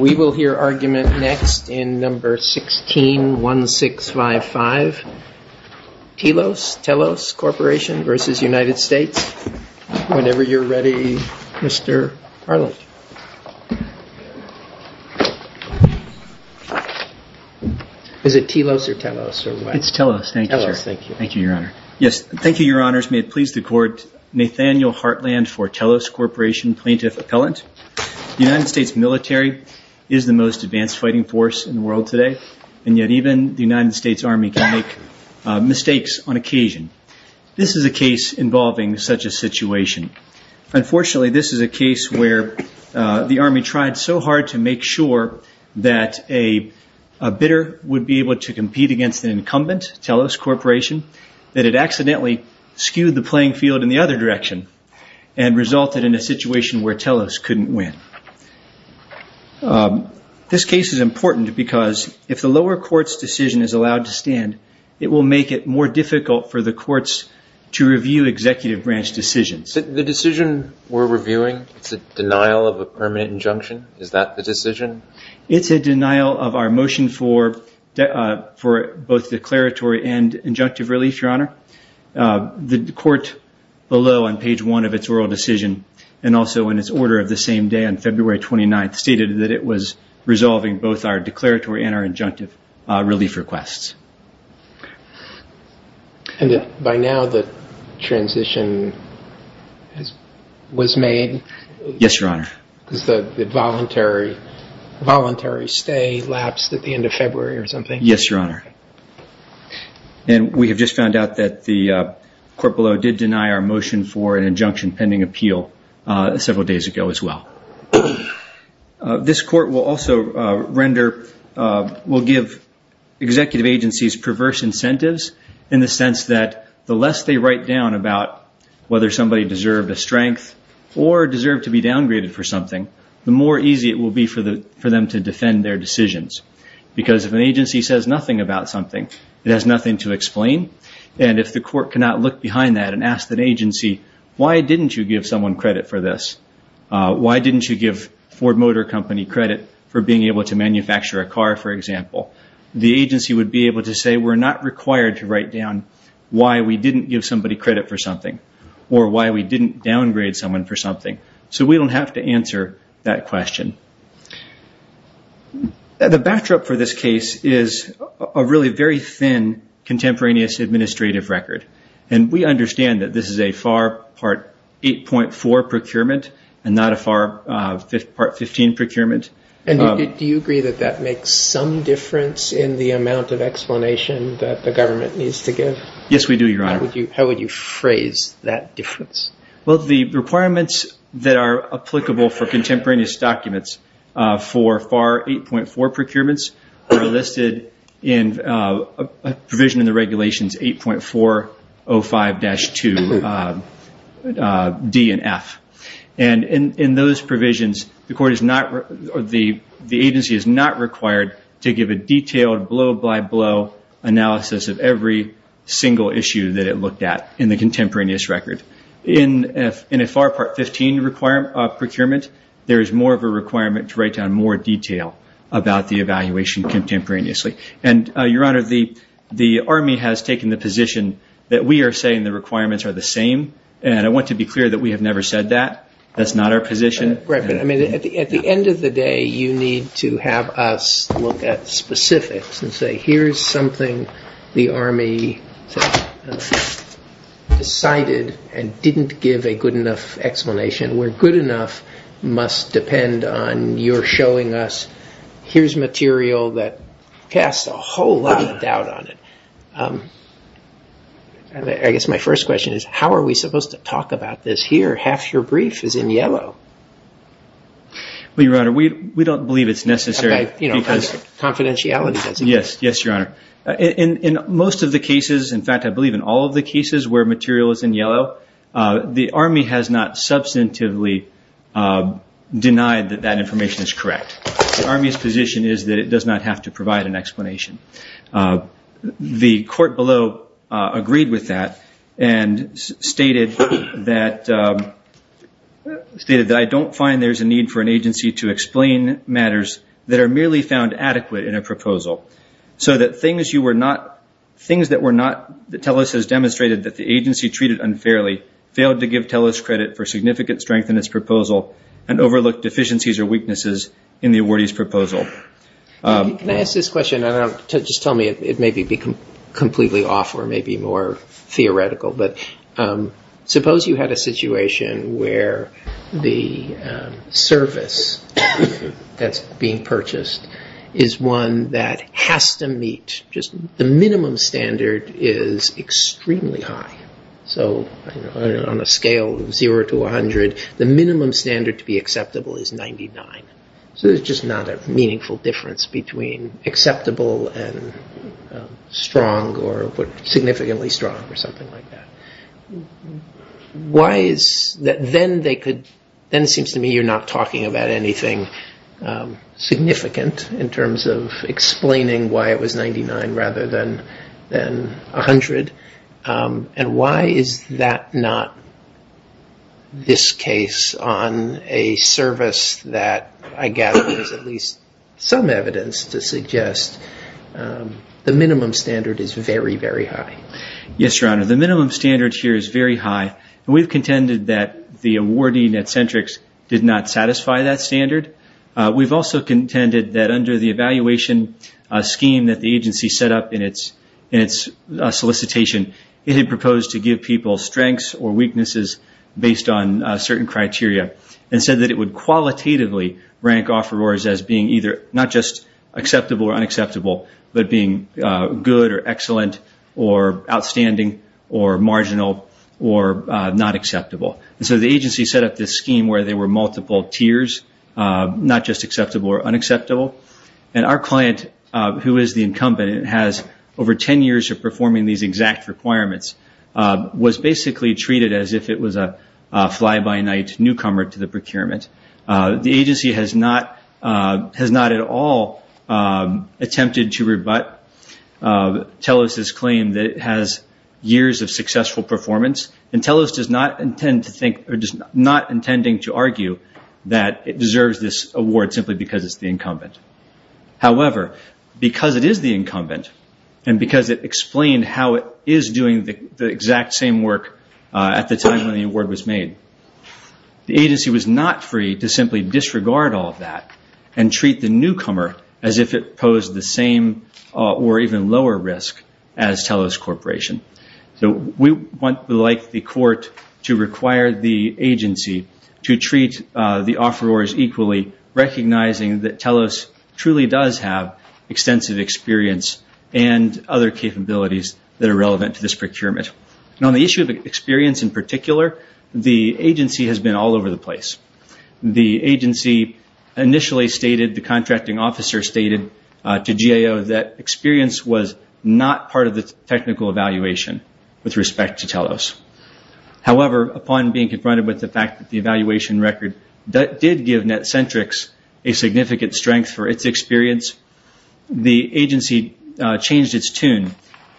We will hear argument next in No. 16-1655. Telos Corporation v. United States. Whenever you're ready, Mr. Harland. Is it Telos or Telos? It's Telos. Thank you, Your Honor. Yes, thank you, Your Honors. May it please the court, Nathaniel Hartland for Telos Corporation plaintiff appellant. The United States military is the most advanced fighting force in the world today, and yet even the United States Army can make mistakes on occasion. This is a case involving such a situation. Unfortunately, this is a case where the Army tried so hard to make sure that a bidder would be able to compete against an incumbent, Telos Corporation, that it accidentally skewed the playing field in the other direction and resulted in a situation where Telos couldn't win. This case is important because if the lower court's decision is allowed to stand, it will make it more difficult for the courts to review executive branch decisions. The decision we're reviewing, it's a denial of a permanent injunction? Is that the decision? It's a denial of our motion for both declaratory and injunctive relief, Your Honor. The court below on page one of its oral decision and also in its order of the same day on February 29th stated that it was resolving both our And by now the transition was made? Yes, Your Honor. Because the voluntary stay lapsed at the end of February or something? Yes, Your Honor. And we have just found out that the court below did deny our motion for an injunction pending appeal several days ago as well. This court will also render, will give executive agencies perverse incentives in the sense that the less they write down about whether somebody deserved a strength or deserved to be downgraded for something, the more easy it will be for them to defend their decisions. Because if an agency says nothing about something, it has nothing to explain. And if the court cannot look behind that and ask that agency, why didn't you give someone credit for this? Why didn't you give Ford Motor Company credit for being able to manufacture a say we're not required to write down why we didn't give somebody credit for something or why we didn't downgrade someone for something. So we don't have to answer that question. The backdrop for this case is a really very thin contemporaneous administrative record. And we understand that this is a FAR Part 8.4 procurement and not a FAR Part 15 procurement. And do you agree that that makes some difference in the amount of explanation that the government needs to give? Yes, we do, Your Honor. How would you phrase that difference? Well, the requirements that are applicable for contemporaneous documents for FAR 8.4 procurements are listed in a provision in regulations 8.405-2D and F. And in those provisions, the agency is not required to give a detailed blow-by-blow analysis of every single issue that it looked at in the contemporaneous record. In a FAR Part 15 procurement, there is more of a requirement to write down more detail about the evaluation contemporaneously. And Your Honor, the Army has taken the position that we are saying the requirements are the same. And I want to be clear that we have never said that. That's not our position. At the end of the day, you need to have us look at specifics and say, here's something the Army decided and didn't give a good enough Here's material that casts a whole lot of doubt on it. I guess my first question is, how are we supposed to talk about this here? Half your brief is in yellow. Well, Your Honor, we don't believe it's necessary because confidentiality doesn't. Yes, Your Honor. In most of the cases, in fact, I believe in all of the cases where material is in yellow, the Army has not substantively denied that that information is correct. The Army's position is that it does not have to provide an explanation. The court below agreed with that and stated that I don't find there's a need for an agency to explain matters that are merely found adequate in a proposal. So that things that TELUS has demonstrated that the agency treated unfairly, to give TELUS credit for significant strength in its proposal and overlook deficiencies or weaknesses in the awardee's proposal. Can I ask this question? Just tell me, it may be completely off or maybe more theoretical, but suppose you had a situation where the service that's being purchased is one that has to meet just the minimum standard is zero to 100. The minimum standard to be acceptable is 99. So there's just not a meaningful difference between acceptable and strong or significantly strong or something like that. Then it seems to me you're not talking about anything significant in terms of explaining why it was 99 rather than 100. Why is that not this case on a service that I gather there's at least some evidence to suggest the minimum standard is very, very high? Yes, Your Honor. The minimum standard here is very high. We've contended that the awardee net centrics did not satisfy that standard. We've also contended that under the evaluation scheme that the agency set up in its solicitation, it had proposed to give people strengths or weaknesses based on certain criteria and said that it would qualitatively rank offerors as being either not just acceptable or unacceptable, but being good or excellent or outstanding or marginal or not acceptable. So the agency set up this scheme where there were multiple tiers, not just acceptable or unacceptable. Our client, who is the incumbent, has over 10 years of performing these exact requirements, was basically treated as if it was a fly-by-night newcomer to the procurement. The agency has not at all attempted to rebut Telos' claim that it has years of successful performance, and Telos does not intend to argue that it deserves this award simply because it's the incumbent. However, because it is the incumbent and because it explained how it is doing the exact same work at the time when the award was made, the agency was not free to simply disregard all of that and treat the newcomer as if it So we would like the court to require the agency to treat the offerors equally, recognizing that Telos truly does have extensive experience and other capabilities that are relevant to this procurement. On the issue of experience in particular, the agency has been all over the place. The agency initially stated, the contracting officer stated to GAO that experience was not part of the technical evaluation with respect to Telos. However, upon being confronted with the fact that the evaluation record did give Netcentrics a significant strength for its experience, the agency changed its tune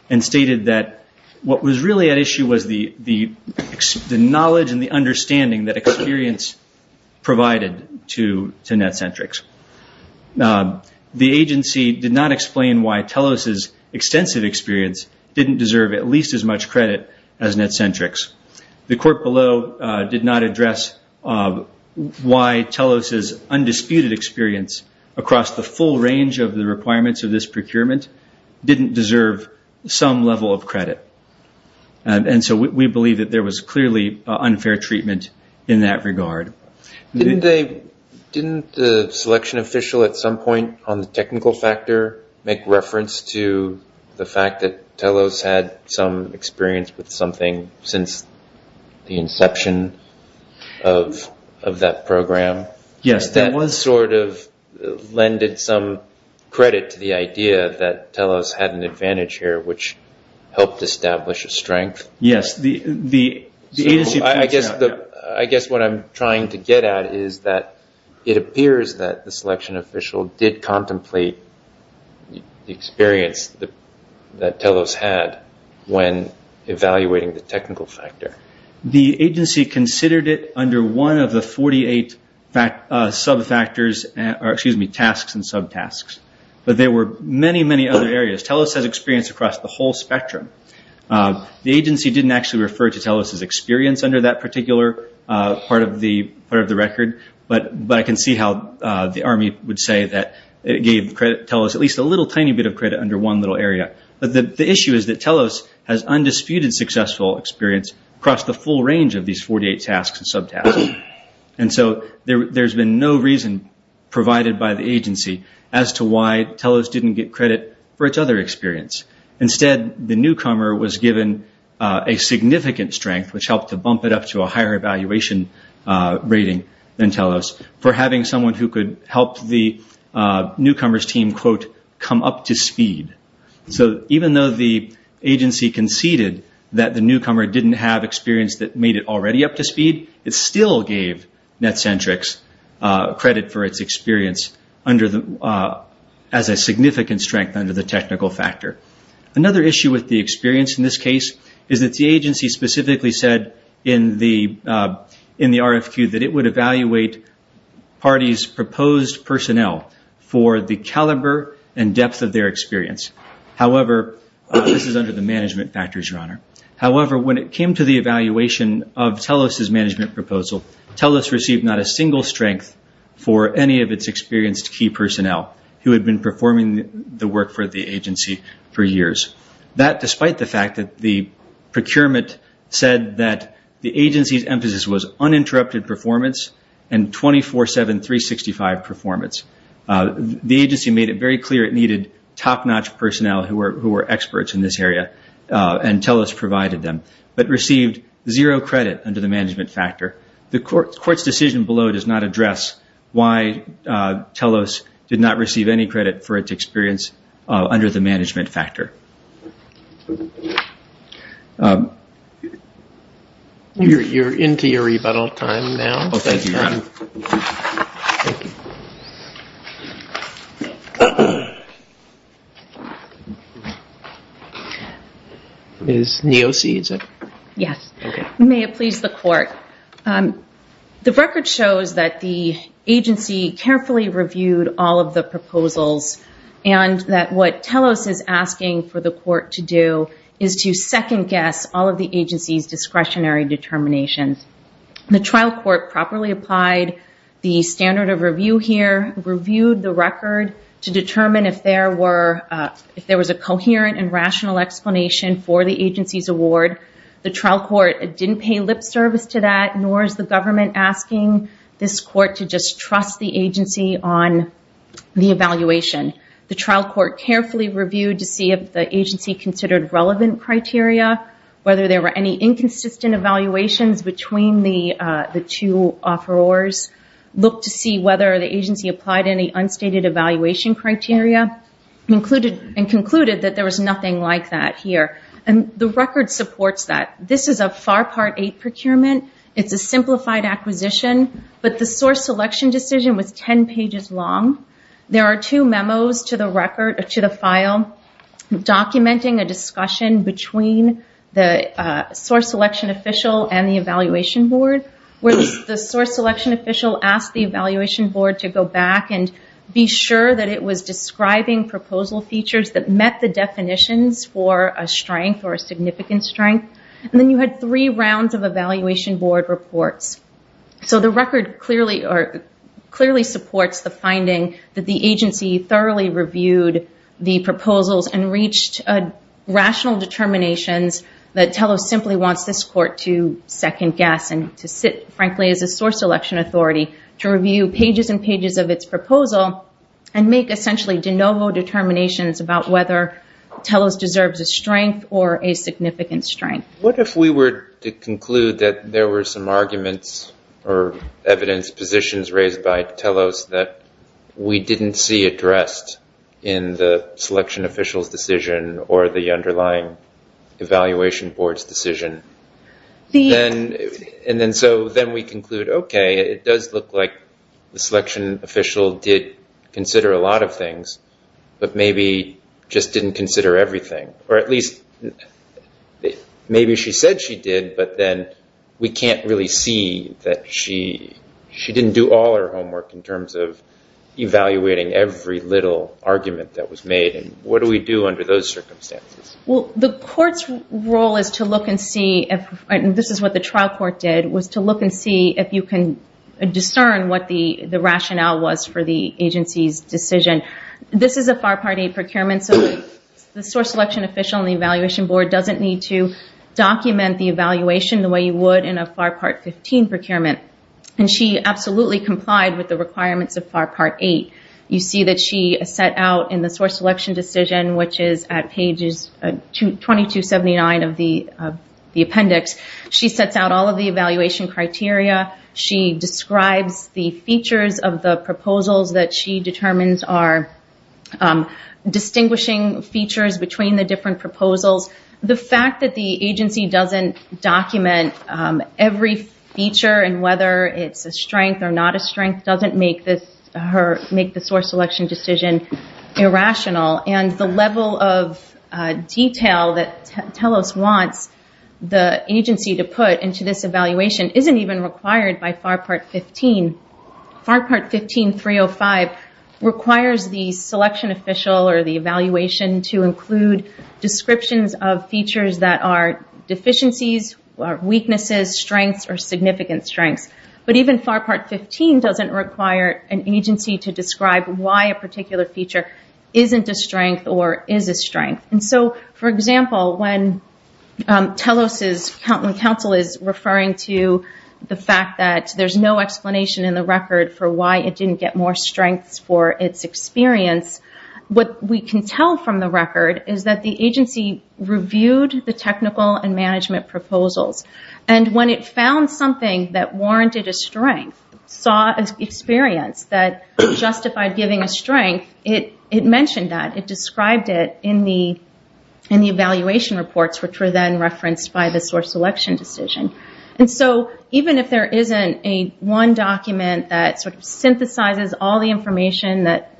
and stated that what was really at issue was the knowledge and the understanding that experience provided to why Telos' extensive experience didn't deserve at least as much credit as Netcentrics. The court below did not address why Telos' undisputed experience across the full range of the requirements of this procurement didn't deserve some level of credit. And so we believe that there was clearly unfair treatment in that regard. Didn't the selection official at some point on the technical factor make reference to the fact that Telos had some experience with something since the inception of that program? Yes. That sort of lended some credit to the idea that Telos had an advantage here which helped establish a strength? Yes. So I guess what I'm trying to get at is that it appears that the selection official did contemplate the experience that Telos had when evaluating the technical factor. The agency considered it under one of the 48 sub-factors, or excuse me, tasks and sub-tasks. But there were many, many other areas. Telos has experience across the whole spectrum. The agency didn't actually refer to Telos' experience under that particular part of the record, but I can see how the Army would say that it gave Telos at least a little tiny bit of credit under one little area. The issue is that Telos has undisputed successful experience across the full range of these 48 tasks and sub-tasks. And so there's been no reason provided by the agency as to why Telos didn't get credit for its other experience. Instead, the newcomer was given a significant strength, which helped to bump it up to a higher evaluation rating than Telos, for having someone who could help the newcomer's team quote, come up to speed. So even though the agency conceded that the newcomer didn't have experience that made it already up to speed, it still gave Netcentrics credit for its experience as a significant strength under the technical factor. Another issue with the experience in this case is that the agency specifically said in the RFQ that it would evaluate parties' proposed personnel for the caliber and depth of their experience. However, this is under the management factors, Your Honor. However, when it came to the evaluation of Telos' management proposal, Telos received not a single strength for any of its experienced key personnel who had been performing the agency for years. That, despite the fact that the procurement said that the agency's emphasis was uninterrupted performance and 24-7, 365 performance. The agency made it very clear it needed top-notch personnel who were experts in this area, and Telos provided them, but received zero credit under the management factor. The Court's decision below does not address why Telos did not receive any credit for its experience under the management factor. You're into your rebuttal time now. Oh, thank you, Your Honor. Thank you. Ms. Neosy, is it? Yes. May it please the Court. The record shows that the agency carefully reviewed all of the proposals and that what Telos is asking for the Court to do is to second-guess all of the agency's discretionary determinations. The trial court properly applied the standard of review here, reviewed the record to determine if there was a coherent and rational explanation for the agency's award. The trial court didn't pay lip service to that, nor is the government asking this Court to just trust the agency on the evaluation. The trial court carefully reviewed to see if the agency considered relevant criteria, whether there were any inconsistent evaluations between the two offerors, looked to see whether the agency applied any unstated evaluation criteria, and concluded that there was nothing like that here. The record supports that. This is a FAR Part 8 procurement. It's a simplified acquisition, but the source selection decision was 10 pages long. There are two memos to the file documenting a discussion between the source selection official and the evaluation board, where the source selection official asked the evaluation board to go back and be sure that it was describing proposal features that met the definitions for a strength or a significant strength. And then you had three rounds of evaluation board reports. So the record clearly supports the finding that the agency thoroughly reviewed the proposals and reached rational determinations that TELOS simply wants this Court to second guess and to sit, frankly, as a source selection authority to review pages and pages of its proposal and make essentially de novo determinations about whether TELOS deserves a strength or a significant strength. What if we were to conclude that there were some arguments or evidence positions raised by TELOS that we didn't see addressed in the selection official's decision or the underlying evaluation board's decision? And then so then we conclude, okay, it does look like the selection official did consider a lot of things, but maybe just didn't consider everything. Or at least maybe she said she did, but then we can't really see that she didn't do all her homework in terms of evaluating every little argument that was made. And what do we do under those circumstances? Well, the Court's role is to look and see if, and this is what the trial court did, was to look and see if you can discern what the rationale was for the agency's decision. This is a FAR Part 8 procurement, so the source selection official and the evaluation board doesn't need to document the evaluation the way you would in a FAR Part 15 procurement. And she absolutely complied with the requirements of FAR Part 8. You see that she set out in the source selection decision, which is at pages 2279 of the appendix, she sets out all of the evaluation criteria, she describes the features of the proposals that she determines are distinguishing features between the different proposals. The fact that the agency doesn't document every feature and whether it's a strength or not a strength doesn't make the source selection decision irrational. And the level of detail that TELOS wants the agency to put into this evaluation isn't even required by FAR Part 15. FAR Part 15.305 requires the selection official or the evaluation to include descriptions of features that are deficiencies, weaknesses, strengths, or significant strengths. But even FAR Part 15 doesn't require an agency to describe why a particular feature isn't a strength or is a strength. And so, for example, when TELOS' counsel is referring to the fact that there's no explanation in the record for why it didn't get more strengths for its experience, what we can tell from the record is that the agency reviewed the technical and management proposals. And when it found something that warranted a strength, saw an experience that justified giving a strength, it mentioned that. It described it in the evaluation reports, which were then referenced by the source selection decision. And so, even if there isn't a one document that sort of synthesizes all the information that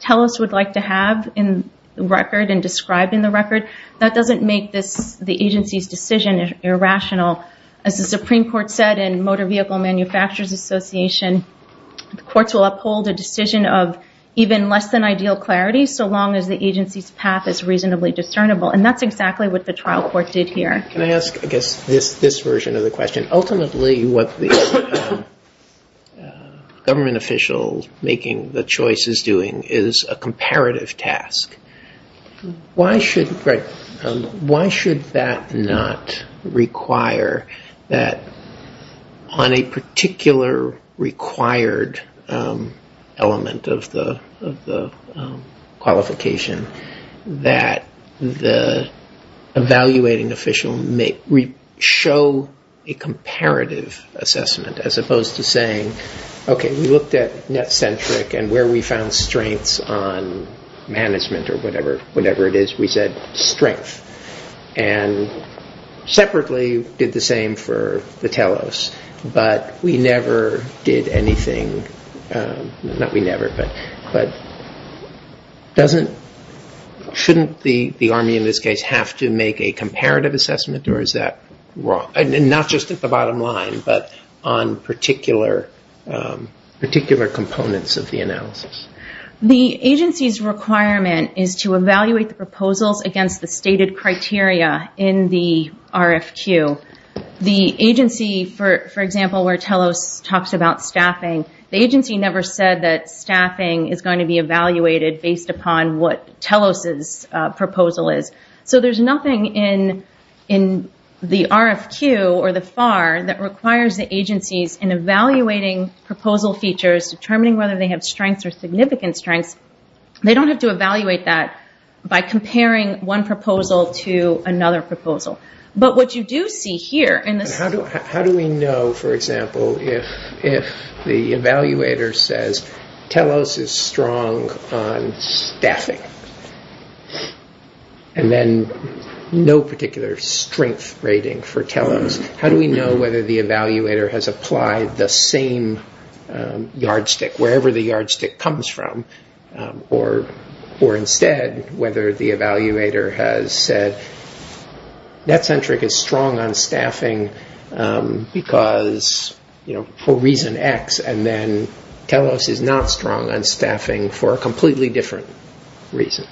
TELOS would like to have in the record and described in the record, that doesn't make the agency's decision irrational. As the Supreme Court said in Motor Vehicle Manufacturers Association, the courts will uphold a decision of even less than ideal clarity, so long as the agency's path is reasonably discernible. And that's exactly what the trial court did here. Can I ask, I guess, this version of the question? Ultimately, what the government official making the choice is doing is a comparative task. Why should that not require that on a particular required element of the qualification that the evaluating official may show a comparative assessment, as opposed to saying, okay, we found strengths on management or whatever it is. We said strength. And separately, did the same for the TELOS. But we never did anything, not we never, but shouldn't the army in this case have to make a comparative assessment, or is that wrong? Not just at the bottom line, but on particular components of the analysis. The agency's requirement is to evaluate the proposals against the stated criteria in the RFQ. The agency, for example, where TELOS talks about staffing, the agency never said that staffing is going to be evaluated based upon what TELOS's proposal is. So there's nothing in the RFQ or the FAR that requires the agencies in evaluating proposal features, determining whether they have strengths or significant strengths, they don't have to evaluate that by comparing one proposal to another proposal. But what you do see here in this... How do we know, for example, if the evaluator says TELOS is strong on staffing, and then no particular strength rating for TELOS, how do we know whether the evaluator has applied the same yardstick, wherever the yardstick comes from, or instead, whether the evaluator has said that centric is strong on staffing because, for reason X, and then TELOS is not strong on staffing for a completely different reason?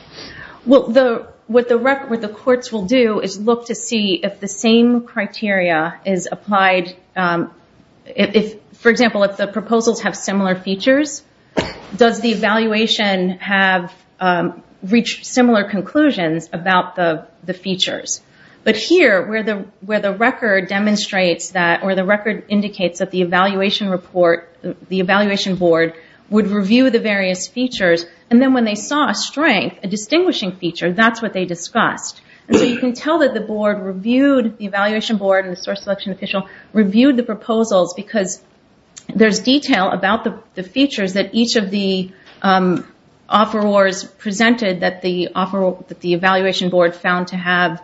Well, what the courts will do is look to see if the same criteria is applied... For example, if the proposals have similar features, does the evaluation have reached similar conclusions about the features? But here, where the record demonstrates that, or the record indicates that the evaluation report, the evaluation board, would review the various features, and then when they saw strength, a distinguishing feature, that's what they discussed. And so you can tell that the board reviewed... The evaluation board and the source selection official reviewed the proposals because there's detail about the features that each of the offerors presented that the evaluation board found to have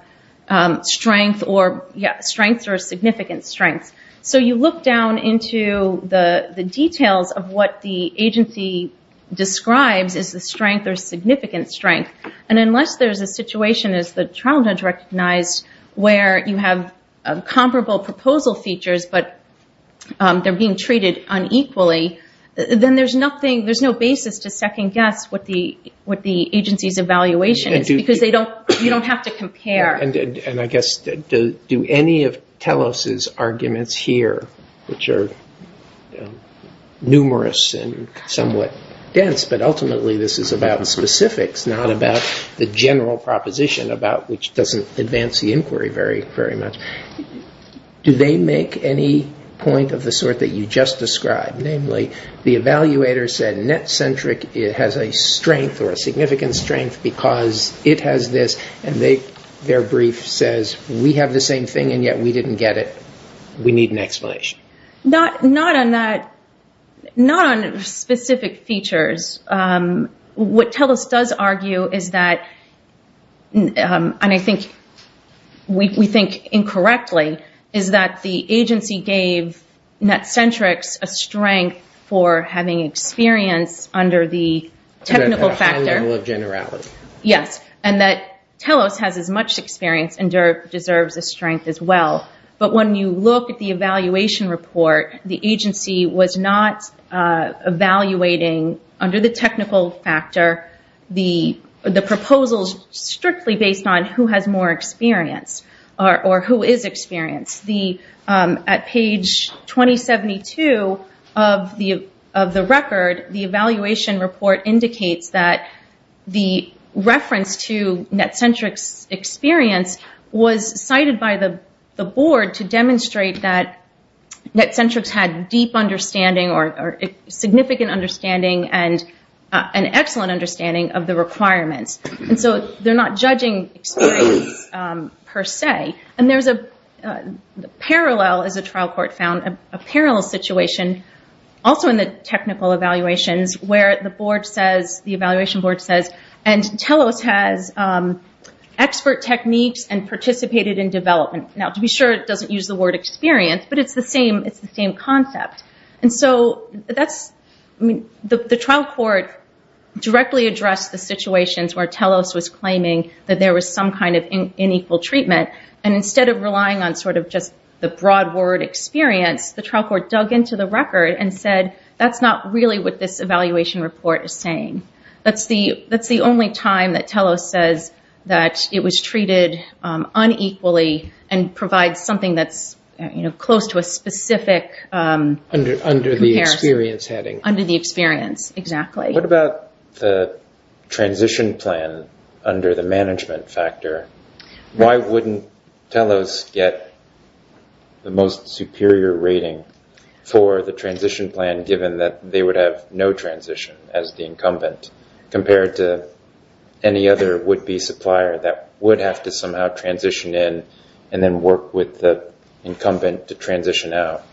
strengths or significant strengths. So you look down into the details of what the agency describes as the strength or significant strength, and unless there's a situation, as the child has recognized, where you have comparable proposal features, but they're being treated unequally, then there's no basis to second guess what the agency's evaluation is because you don't have to compare. And I guess, do any of Telos's arguments here, which are numerous and somewhat dense, but ultimately this is about specifics, not about the general proposition about which doesn't advance the inquiry very much, do they make any point of the sort that you just described? Namely, the evaluator said net-centric has a strength or a significant strength because it has this, and their brief says, we have the same thing, and yet we didn't get it. We need an explanation. Not on that... Not on specific features. What Telos does argue is that, and I think we think incorrectly, is that the agency gave net-centrics a strength for having experience under the technical factor. A high level of generality. Yes. And that Telos has as much experience and deserves a strength as well. But when you look at the evaluation report, the agency was not evaluating under the technical factor the proposals strictly based on who has more experience or who is experienced. At page 2072 of the record, the evaluation report indicates that the reference to net-centrics experience was cited by the board to demonstrate that net-centrics had deep understanding or significant understanding and an excellent understanding of the requirements. And so they're not judging experience per se. And there's a parallel, as a trial court found, a parallel situation also in the technical evaluations where the board says, the evaluation board says, and Telos has expert techniques and participated in development. Now, to be sure, it doesn't use the word experience, but it's the same concept. And so the trial court directly addressed the situations where Telos was claiming that there was some kind of unequal treatment. And instead of relying on sort of just the broad word experience, the trial court dug into the record and said, that's not really what this evaluation report is saying. That's the only time that Telos says that it was treated unequally and provides something that's close to a specific comparison. Under the experience heading. Under the experience, exactly. What about the transition plan under the management factor? Why wouldn't Telos get the most superior rating for the transition plan given that they would have no transition as the incumbent compared to any other would-be supplier that would have to somehow transition in and then work with the incumbent to transition out?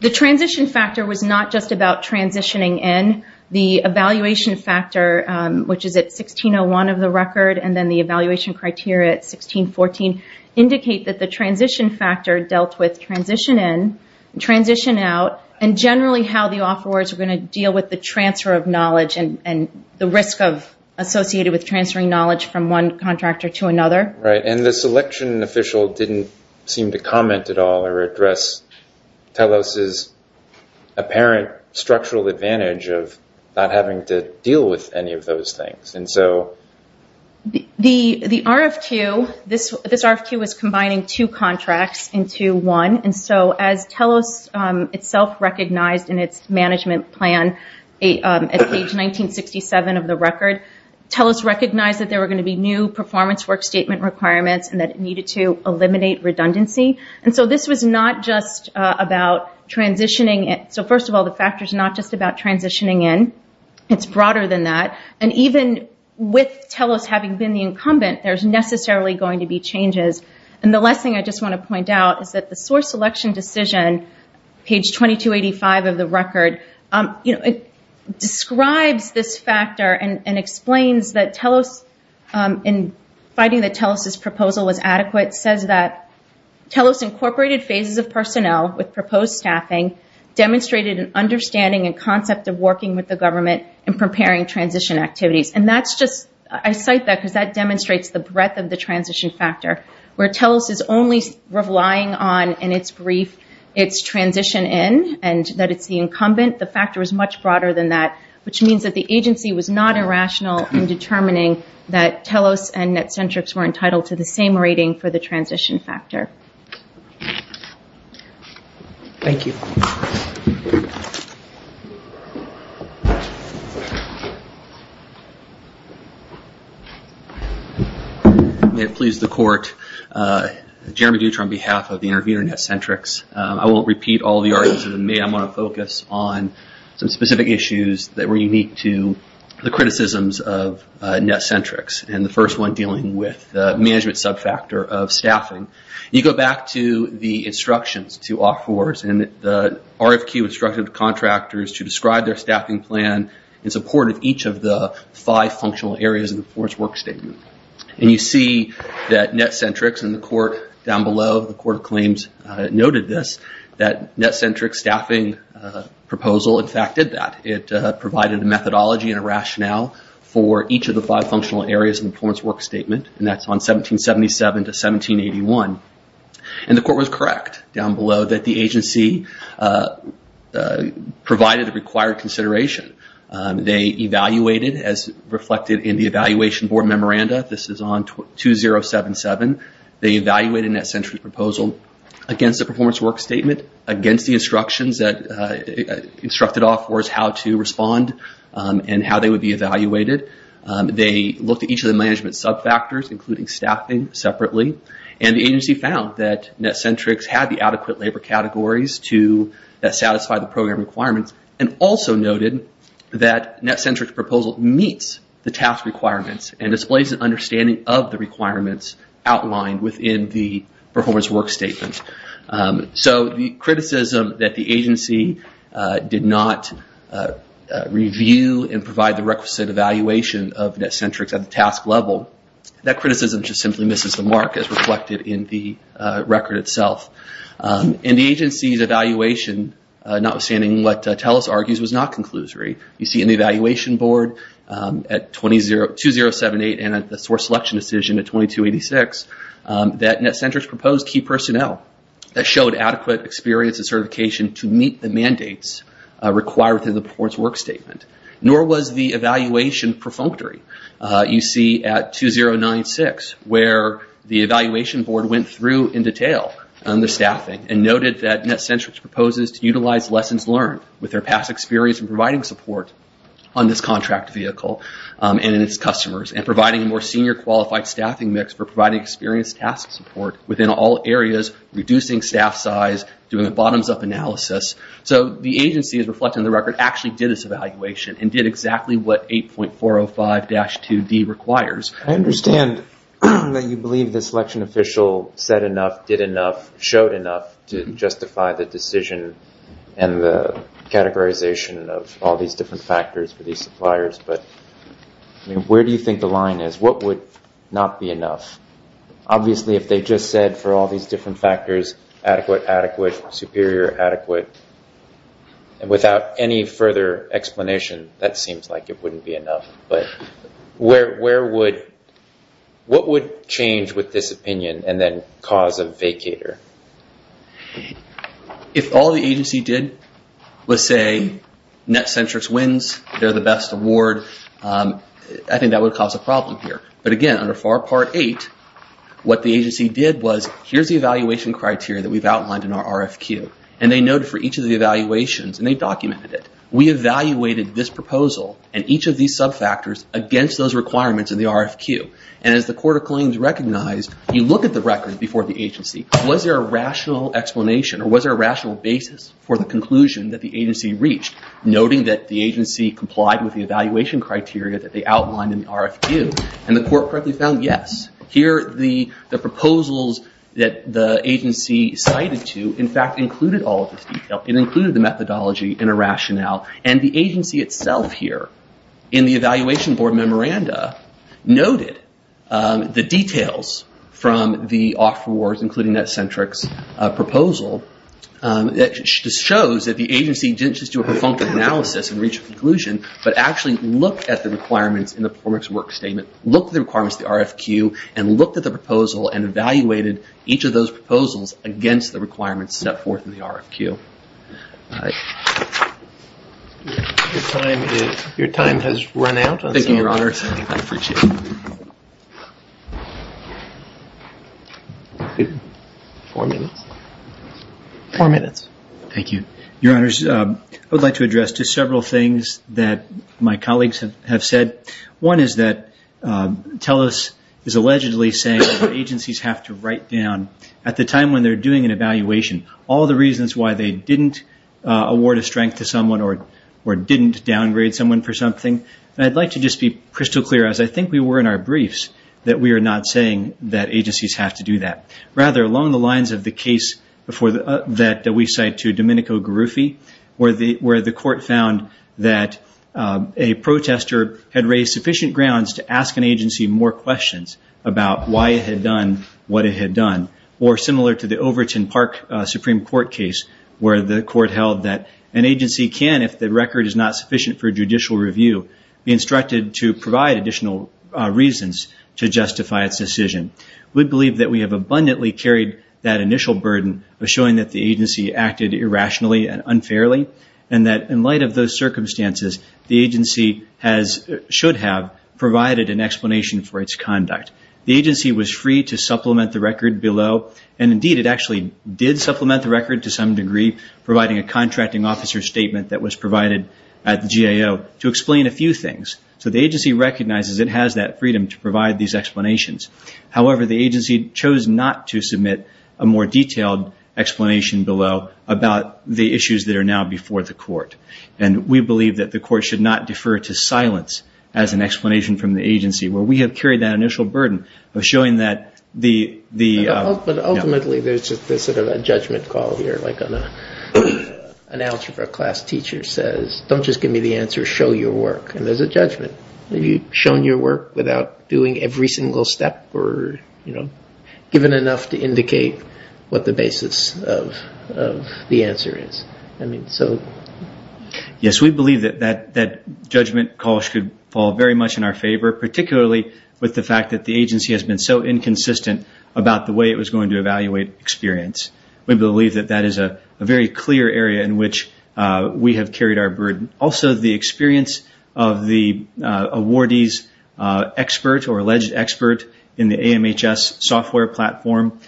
The transition factor was not just about transitioning in. The evaluation factor, which is at 1601 of the record, and then the evaluation criteria at 1614, indicate that the transition factor dealt with transition in, transition out, and generally how the offerors are going to deal with the transfer of knowledge and the risk associated with transferring knowledge from one contractor to another. The selection official didn't seem to comment at all or address Telos' apparent structural advantage of not having to deal with any of those things. The RFQ, this RFQ was combining two contracts into one. As Telos itself recognized in its management plan at page 1967 of the record, Telos recognized that there were going to be new performance work statement requirements and that it needed to eliminate redundancy. First of all, the factor is not just about transitioning in. It's broader than that. Even with Telos having been the incumbent, there's necessarily going to be changes. The last thing I just want to point out is that the source selection decision, page 2285 of the record, describes this factor and explains that Telos, in finding that Telos' proposal was adequate, says that Telos incorporated phases of personnel with proposed staffing, demonstrated an understanding and concept of working with the government in preparing transition activities. I cite that because that demonstrates the breadth of the transition factor, where Telos is only relying on, in its brief, its transition in and that it's the incumbent. The factor is much broader than that, which means that the agency was not irrational in determining that Telos and Netcentrics were entitled to the same rating for the transition factor. Thank you. May it please the court, Jeremy Dutra on behalf of the intervener, Netcentrics. I won't repeat all the arguments that have been made. I'm going to focus on some specific issues that were unique to the criticisms of Netcentrics and the first one dealing with the management sub-factor of staffing. You go back to the instructions to offerers and the RFQ instructed contractors to describe their staffing plan in support of each of the five functional areas in the Florence Work Statement. You see that Netcentrics and the court down below, the court claims noted this, that Netcentrics staffing proposal, in fact, did that. It provided a methodology and a rationale for each of the five functional areas in the 1881. The court was correct down below that the agency provided the required consideration. They evaluated as reflected in the evaluation board memoranda. This is on 2077. They evaluated Netcentrics proposal against the performance work statement, against the instructions that instructed offerers how to respond and how they would be evaluated. They looked at each of the management sub-factors including staffing separately and the agency found that Netcentrics had the adequate labor categories to satisfy the program requirements and also noted that Netcentrics proposal meets the task requirements and displays an understanding of the requirements outlined within the performance work statement. So the criticism that the agency did not review and provide the requisite evaluation of Netcentrics at the task level, that criticism just simply misses the mark as reflected in the record itself. In the agency's evaluation, notwithstanding what TELUS argues was not conclusory, you see in the evaluation board at 2078 and at the source selection decision at 2286 that Netcentrics proposed key personnel that showed adequate experience and certification to meet the mandates required to the performance work statement. Nor was the evaluation perfunctory. You see at 2096 where the evaluation board went through in detail on the staffing and noted that Netcentrics proposes to utilize lessons learned with their past experience in providing support on this contract vehicle and in its customers and providing a more within all areas, reducing staff size, doing a bottoms up analysis. So the agency is reflected in the record, actually did this evaluation and did exactly what 8.405-2D requires. I understand that you believe the selection official said enough, did enough, showed enough to justify the decision and the categorization of all these different factors for these suppliers, but where do you think the line is? What would not be enough? Obviously if they just said for all these different factors, adequate, adequate, superior, adequate, and without any further explanation, that seems like it wouldn't be enough. But what would change with this opinion and then cause a vacater? If all the agency did was say Netcentrics wins, they're the best award, I think that would cause a problem here. But again, under FAR Part 8, what the agency did was here's the evaluation criteria that we've outlined in our RFQ and they noted for each of the evaluations and they documented it, we evaluated this proposal and each of these sub-factors against those requirements in the RFQ. And as the Court of Claims recognized, you look at the record before the agency, was there a rational explanation or was there a rational basis for the conclusion that the agency reached, noting that the agency complied with the evaluation criteria that they outlined in the RFQ? And the court correctly found yes. Here the proposals that the agency cited to, in fact, included all of this detail. It included the methodology and a rationale. And the agency itself here, in the evaluation board memoranda, noted the details from the offer awards, including Netcentrics proposal, that just shows that the agency didn't just do a perfunctory analysis and reach a conclusion, but actually looked at the requirements in the performance work statement, looked at the requirements in the RFQ, and looked at the proposal and evaluated each of those proposals against the requirements set forth in the RFQ. Your time has run out. Thank you, Your Honors. I appreciate it. Four minutes. Four minutes. Thank you. Your Honors, I would like to address to several things that my colleagues have said. One is that TELUS is allegedly saying that agencies have to write down, at the time when they're doing an evaluation, all the reasons why they didn't award a strength to someone or didn't downgrade someone for something. And I'd like to just be crystal clear, as I think we were in our briefs, that we are not saying that agencies have to do that. Rather, along the lines of the case that we cite to Domenico Garuffi, where the court found that a protester had raised sufficient grounds to ask an agency more questions about why it had done what it had done, or similar to the Overton Park Supreme Court case, where the court held that an agency can, if the record is not sufficient for judicial review, be instructed to provide additional reasons to justify its decision. We believe that we have abundantly carried that initial burden of showing that the agency acted irrationally and unfairly, and that in light of those circumstances, the agency should have provided an explanation for its conduct. The agency was free to supplement the record below, and indeed, it actually did supplement the record to some degree, providing a contracting officer statement that was provided at the GAO to explain a few things. So the agency recognizes it has that freedom to provide these explanations. However, the agency chose not to submit a more detailed explanation below about the issues that are now before the court, and we believe that the court should not defer to silence as an explanation from the agency, where we have carried that initial burden of showing that the... But ultimately, there's sort of a judgment call here, like an algebra class teacher says, don't just give me the answer, show your work, and there's a judgment. Have you shown your work without doing every single step or given enough to indicate what the basis of the answer is? Yes, we believe that that judgment call should fall very much in our favor, particularly with the fact that the agency has been so inconsistent about the way it was going to evaluate experience. We believe that that is a very clear area in which we have carried our burden. Also, the experience of the awardee's expert or alleged expert in the AMHS software platform,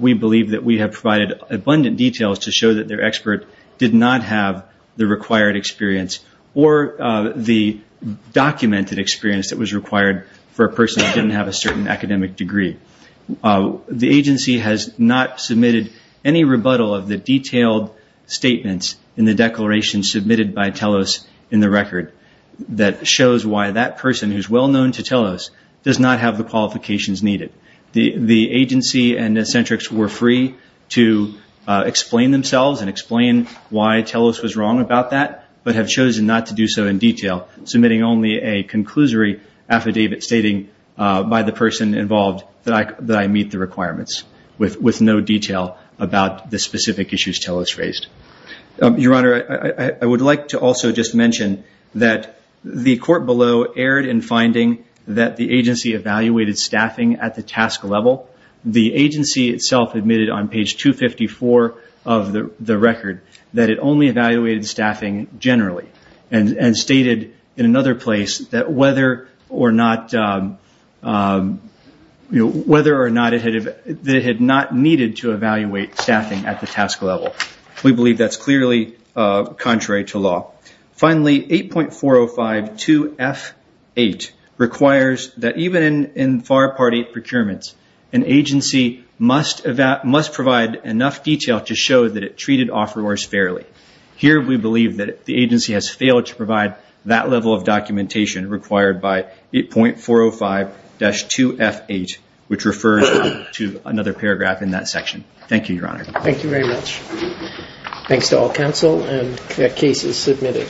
we believe that we have provided abundant details to show that their expert did not have the required experience or the documented experience that was required for a person who didn't have a certain academic degree. The agency has not submitted any rebuttal of the detailed statements in the declaration submitted by TELOS in the record that shows why that person who's well-known to TELOS does not have the qualifications needed. The agency and the eccentrics were free to explain themselves and explain why TELOS was wrong about that, but have chosen not to do so in detail, submitting only a conclusory affidavit stating by the person involved that I meet the requirements with no detail about the specific issues TELOS faced. Your Honor, I would like to also just mention that the court below erred in finding that the agency evaluated staffing at the task level. The agency itself admitted on page 254 of the record that it only evaluated staffing generally and stated in another place that whether or not it had not needed to evaluate staffing at the task level. We believe that's clearly contrary to law. Finally, 8.405-2F8 requires that even in FAR Part 8 procurements, an agency must provide enough detail to show that it treated offerors fairly. Here, we believe that the agency has failed to provide that level of documentation required by 8.405-2F8, which refers to another paragraph in that section. Thank you, Your Honor. Thank you very much. Thanks to all counsel and cases submitted.